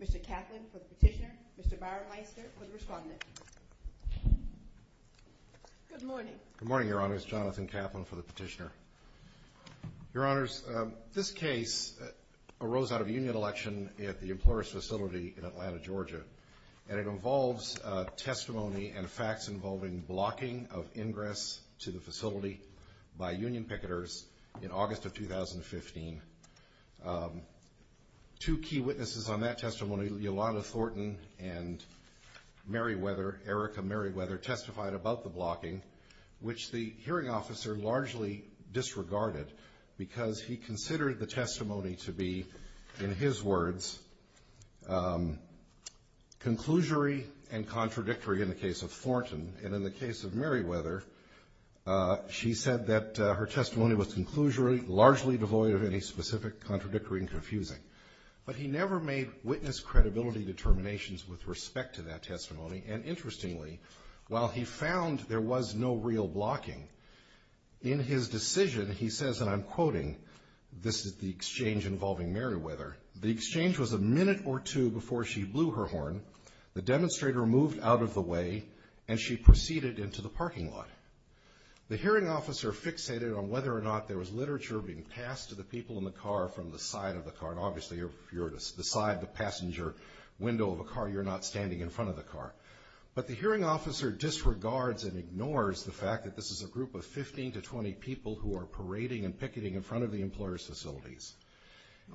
Mr. Kaplan for the petitioner, Mr. Byron Meister for the respondent. Good morning. Good morning, Your Honors. Jonathan Kaplan for the petitioner. Your Honors, this case arose out of a union election at the Employers' Facility in Atlanta, Georgia, and it involves testimony and facts involving blocking of ingress to the facility by union picketers in August of 2015. Two key witnesses on that testimony, Yolanda Thornton and Mary Weather, Erica Mary Weather, testified about the blocking, which the hearing officer largely disregarded because he considered the testimony to be, in his words, conclusory and contradictory in the case of Thornton. And in the case of Mary Weather, she said that her testimony was conclusory, largely devoid of any specific contradictory and confusing. But he never made witness credibility determinations with respect to that testimony. And interestingly, while he found there was no real blocking, in his decision, he says, and I'm quoting, this is the exchange involving Mary Weather, the exchange was a minute or two before she blew her horn, the demonstrator moved out of the way, and she proceeded into the parking lot. The hearing officer fixated on whether or not there was literature being passed to the people in the car from the side of the car. And obviously, if you're beside the passenger window of a car, you're not standing in front of the car. But the hearing officer disregards and ignores the fact that this is a group of 15 to 20 people who are parading and picketing in front of the employer's facilities.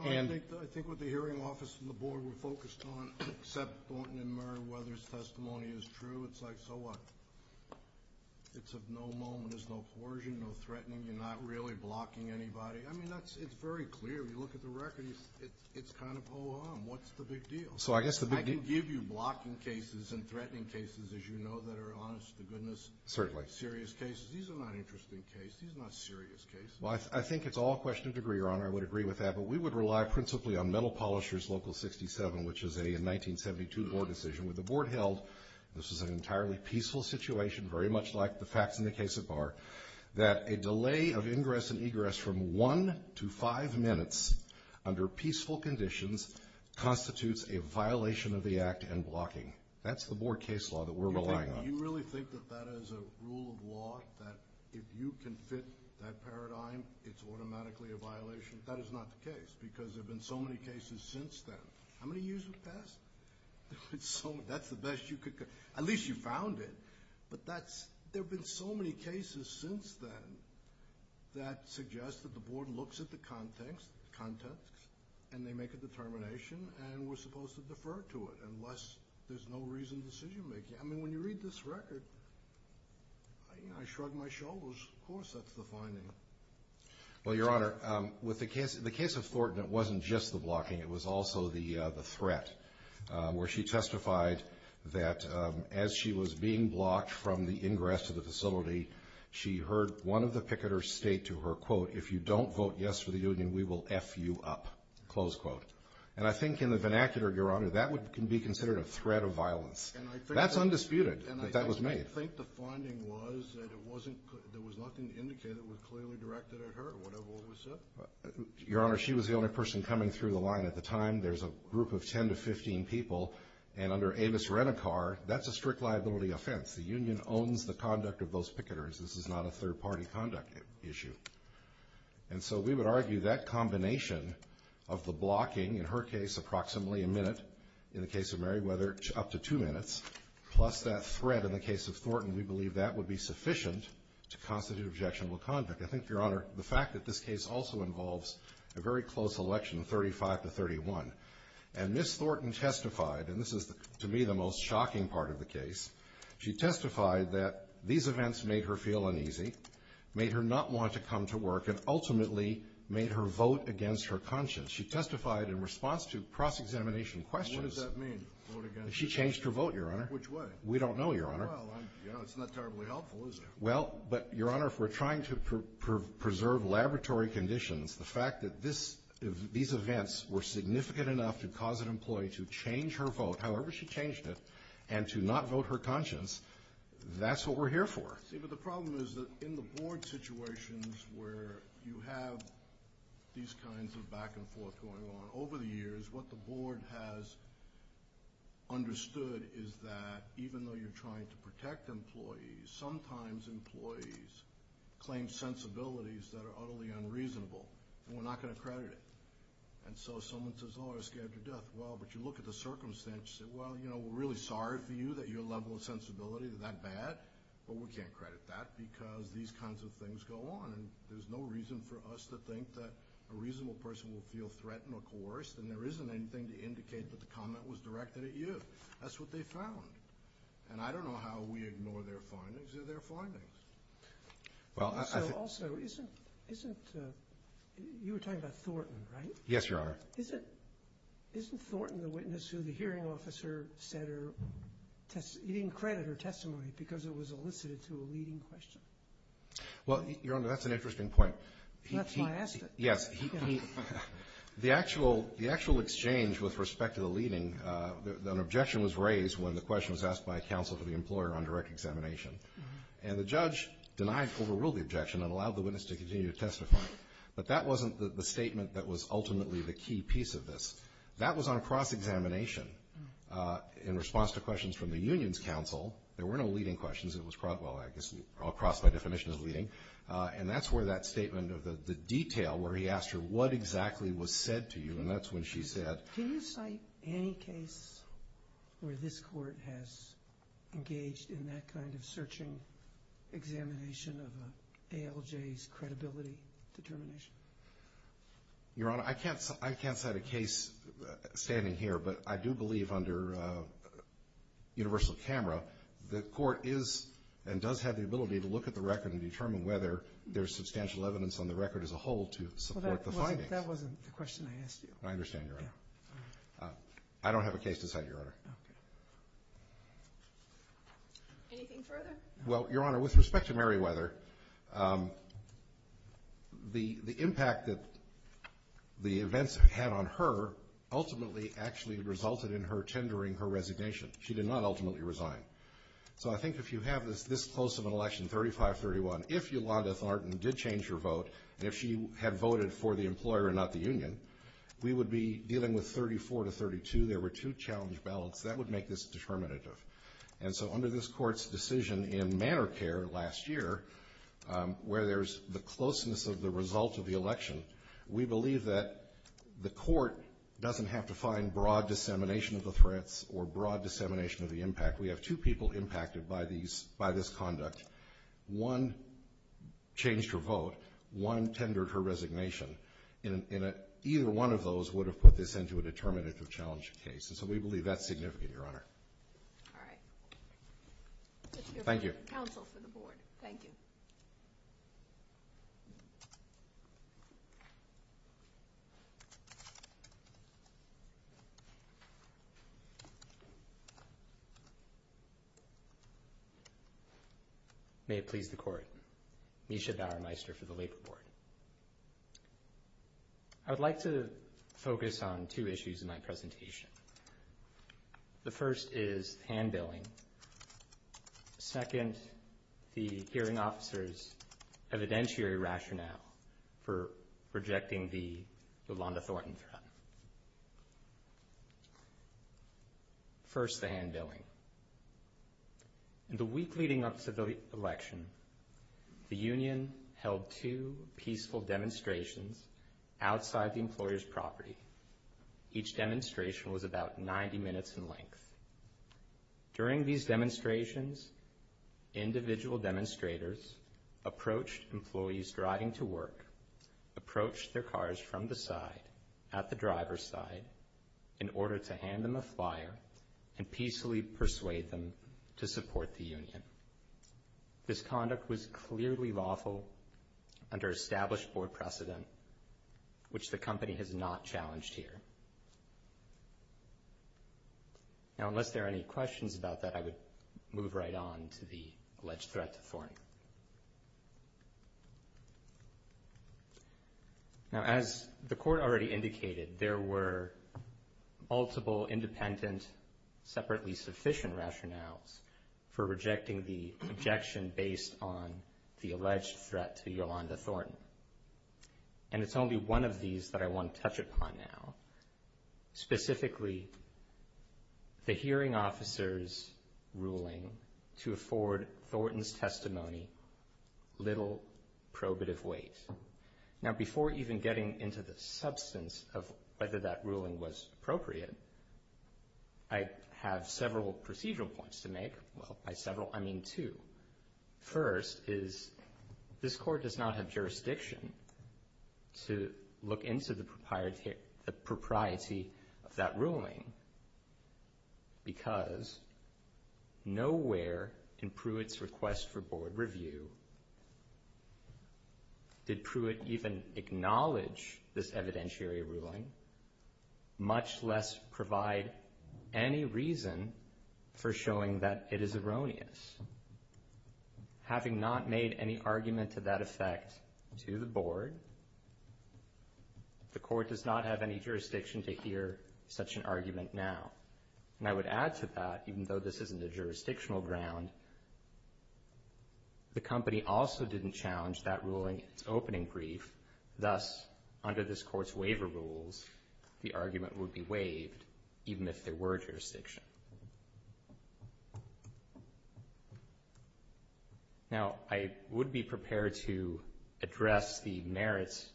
I think what the hearing officer and the board were focused on, except Thornton and Mary Weather's testimony is true, it's like, so what? It's of no moment, there's no coercion, no threatening, you're not really blocking anybody. I mean, it's very clear, you look at the record, it's kind of, oh, what's the big deal? So I guess the big deal. I can give you blocking cases and threatening cases, as you know, that are honest to goodness. Certainly. Serious cases. These are not interesting cases. These are not serious cases. Well, I think it's all question of degree, Your Honor. I would agree with that. But we would rely principally on Metal Polisher's Local 67, which is a 1972 board decision with the board held, this is an entirely peaceful situation, very much like the facts in the case of Barr, that a delay of ingress and egress from one to five minutes under peaceful conditions constitutes a violation of the act and blocking. That's the board case law that we're relying on. You really think that that is a rule of law, that if you can fit that paradigm, it's automatically a violation? That is not the case, because there have been so many cases since then. How many years have passed? That's the best you could, at least you found it. But there have been so many cases since then that suggest that the board looks at the context and they make a determination and we're supposed to defer to it unless there's no reason to decision-making. I mean, when you read this record, I shrug my shoulders. Of course that's the finding. Well, Your Honor, the case of Thornton, it wasn't just the blocking. It was also the threat, where she testified that as she was being blocked from the ingress to the facility, she heard one of the picketers state to her, quote, if you don't vote yes for the union, we will F you up, close quote. And I think in the vernacular, Your Honor, that can be considered a threat of violence. That's undisputed that that was made. And I think the finding was that there was nothing to indicate that was clearly directed at her or whatever was said. Your Honor, she was the only person coming through the line at the time. There's a group of 10 to 15 people. And under Avis Renicar, that's a strict liability offense. The union owns the conduct of those picketers. This is not a third-party conduct issue. And so we would argue that combination of the blocking, in her case, approximately a minute, in the case of Meriwether, up to two minutes, plus that threat in the case of Thornton, we believe that would be sufficient to constitute objectionable conduct. I think, Your Honor, the fact that this case also involves a very close election, 35 to 31, and Ms. Thornton testified, and this is to me the most shocking part of the case, she testified that these events made her feel uneasy, made her not want to come to work, and ultimately made her vote against her conscience. She testified in response to cross-examination questions. What does that mean, vote against her conscience? She changed her vote, Your Honor. Which way? We don't know, Your Honor. Well, it's not terribly helpful, is it? Well, but, Your Honor, if we're trying to preserve laboratory conditions, the fact that these events were significant enough to cause an employee to change her vote, however she changed it, and to not vote her conscience, that's what we're here for. See, but the problem is that in the board situations where you have these kinds of back-and-forth going on, over the years what the board has understood is that even though you're trying to protect employees, sometimes employees claim sensibilities that are utterly unreasonable, and we're not going to credit it. And so someone says, oh, I was scared to death. Well, but you look at the circumstances and say, well, you know, we're really sorry for you that your level of sensibility is that bad, but we can't credit that because these kinds of things go on, and there's no reason for us to think that a reasonable person will feel threatened or coerced, and there isn't anything to indicate that the comment was directed at you. That's what they found. And I don't know how we ignore their findings of their findings. Also, you were talking about Thornton, right? Yes, Your Honor. Isn't Thornton the witness who the hearing officer said he didn't credit her testimony because it was elicited to a leading question? Well, Your Honor, that's an interesting point. That's why I asked it. The actual exchange with respect to the leading, an objection was raised when the question was asked by counsel to the employer on direct examination. And the judge denied, overruled the objection and allowed the witness to continue to testify. But that wasn't the statement that was ultimately the key piece of this. That was on cross-examination in response to questions from the union's counsel. There were no leading questions. And that's where that statement of the detail where he asked her what exactly was said to you, and that's when she said. Can you cite any case where this Court has engaged in that kind of searching, examination of an ALJ's credibility determination? Your Honor, I can't cite a case standing here, but I do believe under universal camera the Court is and does have the ability to look at the record and determine whether there's substantial evidence on the record as a whole to support the findings. Well, that wasn't the question I asked you. I understand, Your Honor. I don't have a case to cite, Your Honor. Okay. Anything further? Well, Your Honor, with respect to Mary Weather, the impact that the events had on her ultimately actually resulted in her tendering her resignation. She did not ultimately resign. So I think if you have this close of an election, 35-31, if Yolanda Thornton did change her vote, and if she had voted for the employer and not the union, we would be dealing with 34-32. There were two challenge ballots. That would make this determinative. And so under this Court's decision in Manor Care last year, where there's the closeness of the result of the election, we believe that the Court doesn't have to find broad dissemination of the threats or broad dissemination of the impact. We have two people impacted by this conduct. One changed her vote. One tendered her resignation. And either one of those would have put this into a determinative challenge case. And so we believe that's significant, Your Honor. All right. Thank you. Counsel for the Board. Thank you. May it please the Court. Misha Bauermeister for the Labor Board. I would like to focus on two issues in my presentation. The first is hand-billing. Second, the hearing officer's evidentiary rationale for rejecting the Yolanda Thornton threat. First, the hand-billing. In the week leading up to the election, the union held two peaceful demonstrations outside the employer's property. Each demonstration was about 90 minutes in length. During these demonstrations, individual demonstrators approached employees driving to work, approached their cars from the side, at the driver's side, in order to hand them a flyer and peacefully persuade them to support the union. This conduct was clearly lawful under established board precedent, which the company has not challenged here. Now, unless there are any questions about that, I would move right on to the alleged threat to Thornton. Now, as the Court already indicated, there were multiple independent separately sufficient rationales for rejecting the objection based on the alleged threat to Yolanda Thornton. And it's only one of these that I want to touch upon now, specifically the hearing officer's ruling to afford Thornton's testimony little probative weight. Now, before even getting into the substance of whether that ruling was appropriate, I have several procedural points to make. Well, by several, I mean two. First is this Court does not have jurisdiction to look into the propriety of that ruling because nowhere in Pruitt's request for board review did Pruitt even acknowledge this evidentiary ruling, much less provide any reason for showing that it is erroneous. Having not made any argument to that effect to the board, the Court does not have any jurisdiction to hear such an argument now. And I would add to that, even though this isn't a jurisdictional ground, the company also didn't challenge that ruling in its opening brief. Thus, under this Court's waiver rules, the argument would be waived even if there were jurisdiction. Now, I would be prepared to address the merits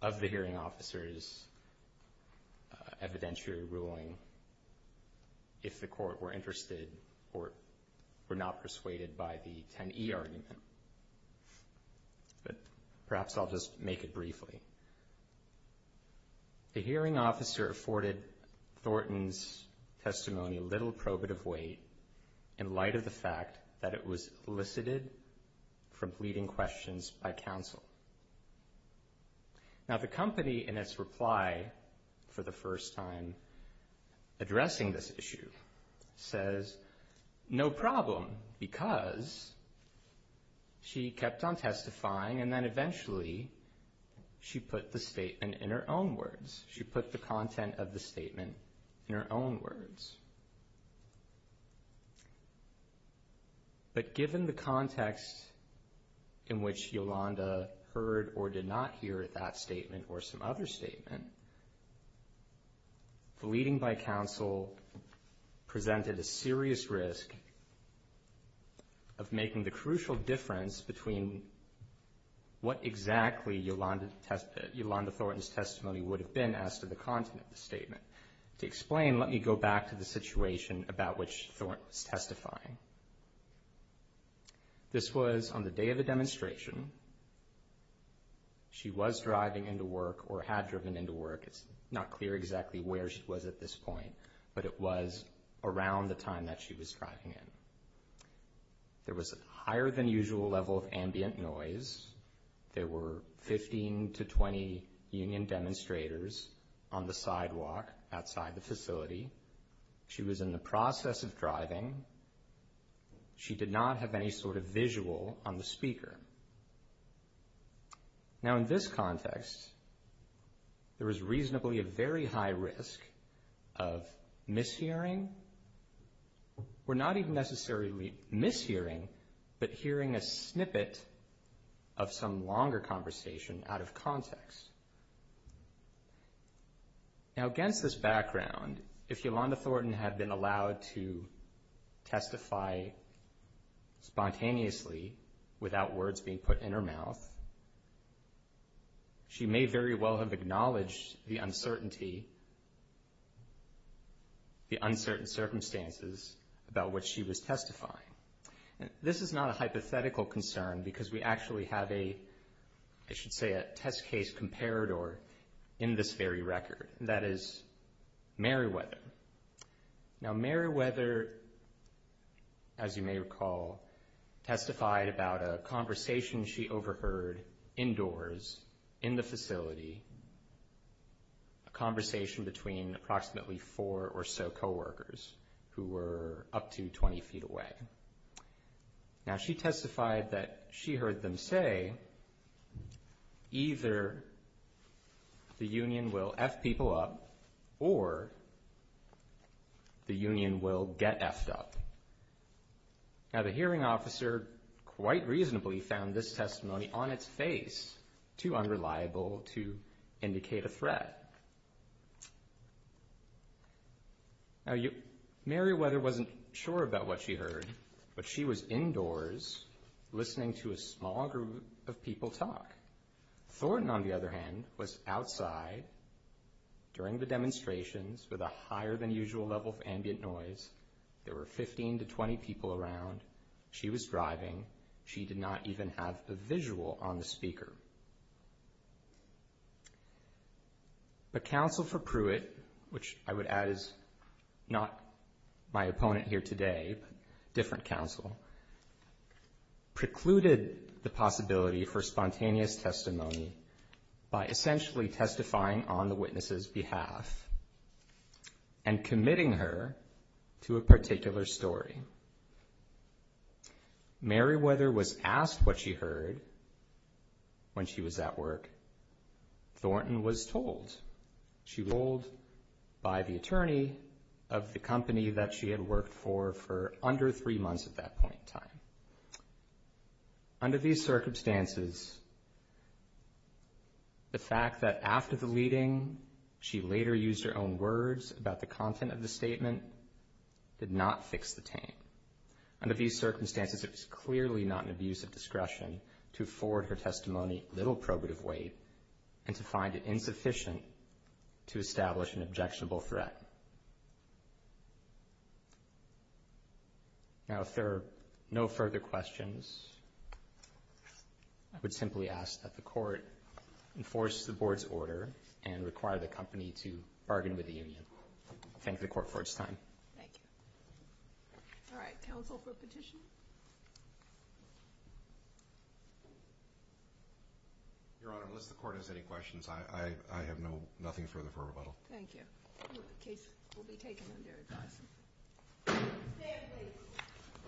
of the hearing officer's evidentiary ruling if the Court were interested or were not persuaded by the 10e argument. But perhaps I'll just make it briefly. The hearing officer afforded Thornton's testimony little probative weight in light of the fact that it was elicited from leading questions by counsel. Now, the company, in its reply for the first time addressing this issue, says, no problem, because she kept on testifying, and then eventually she put the statement in her own words. She put the content of the statement in her own words. But given the context in which Yolanda heard or did not hear that statement or some other statement, the leading by counsel presented a serious risk of making the crucial difference between what exactly Yolanda Thornton's testimony would have been as to the content of the statement. To explain, let me go back to the situation about which Thornton was testifying. This was on the day of the demonstration. She was driving into work or had driven into work. It's not clear exactly where she was at this point, but it was around the time that she was driving in. There was a higher-than-usual level of ambient noise. There were 15 to 20 union demonstrators on the sidewalk outside the facility. She was in the process of driving. She did not have any sort of visual on the speaker. Now, in this context, there was reasonably a very high risk of mishearing, or not even necessarily mishearing, but hearing a snippet of some longer conversation out of context. Now, against this background, if Yolanda Thornton had been allowed to testify spontaneously without words being put in her mouth, she may very well have acknowledged the uncertainty, the uncertain circumstances about which she was testifying. This is not a hypothetical concern because we actually have a, I should say, a test case comparator in this very record. That is Meriwether. Now, Meriwether, as you may recall, testified about a conversation she overheard indoors in the facility, a conversation between approximately four or so coworkers who were up to 20 feet away. Now, she testified that she heard them say, either the union will F people up or the union will get F'd up. Now, the hearing officer quite reasonably found this testimony on its face too unreliable to indicate a threat. Now, Meriwether wasn't sure about what she heard, but she was indoors listening to a small group of people talk. Thornton, on the other hand, was outside during the demonstrations with a higher than usual level of ambient noise. There were 15 to 20 people around. She was driving. She did not even have a visual on the speaker. The counsel for Pruitt, which I would add is not my opponent here today, different counsel, precluded the possibility for spontaneous testimony by essentially testifying on the witness's behalf and committing her to a particular story. Meriwether was asked what she heard when she was at work. Thornton was told. She was told by the attorney of the company that she had worked for for under three months at that point in time. Under these circumstances, the fact that after the leading, she later used her own words about the content of the statement did not fix the taint. Under these circumstances, it was clearly not an abuse of discretion to afford her testimony little probative weight and to find it insufficient to establish an objectionable threat. Now, if there are no further questions, I would simply ask that the court enforce the board's order and require the company to bargain with the union. Thank the court for its time. Thank you. All right. Counsel for petition? Your Honor, unless the court has any questions, I have nothing further for rebuttal. Thank you. The case will be taken under advice. Stand please.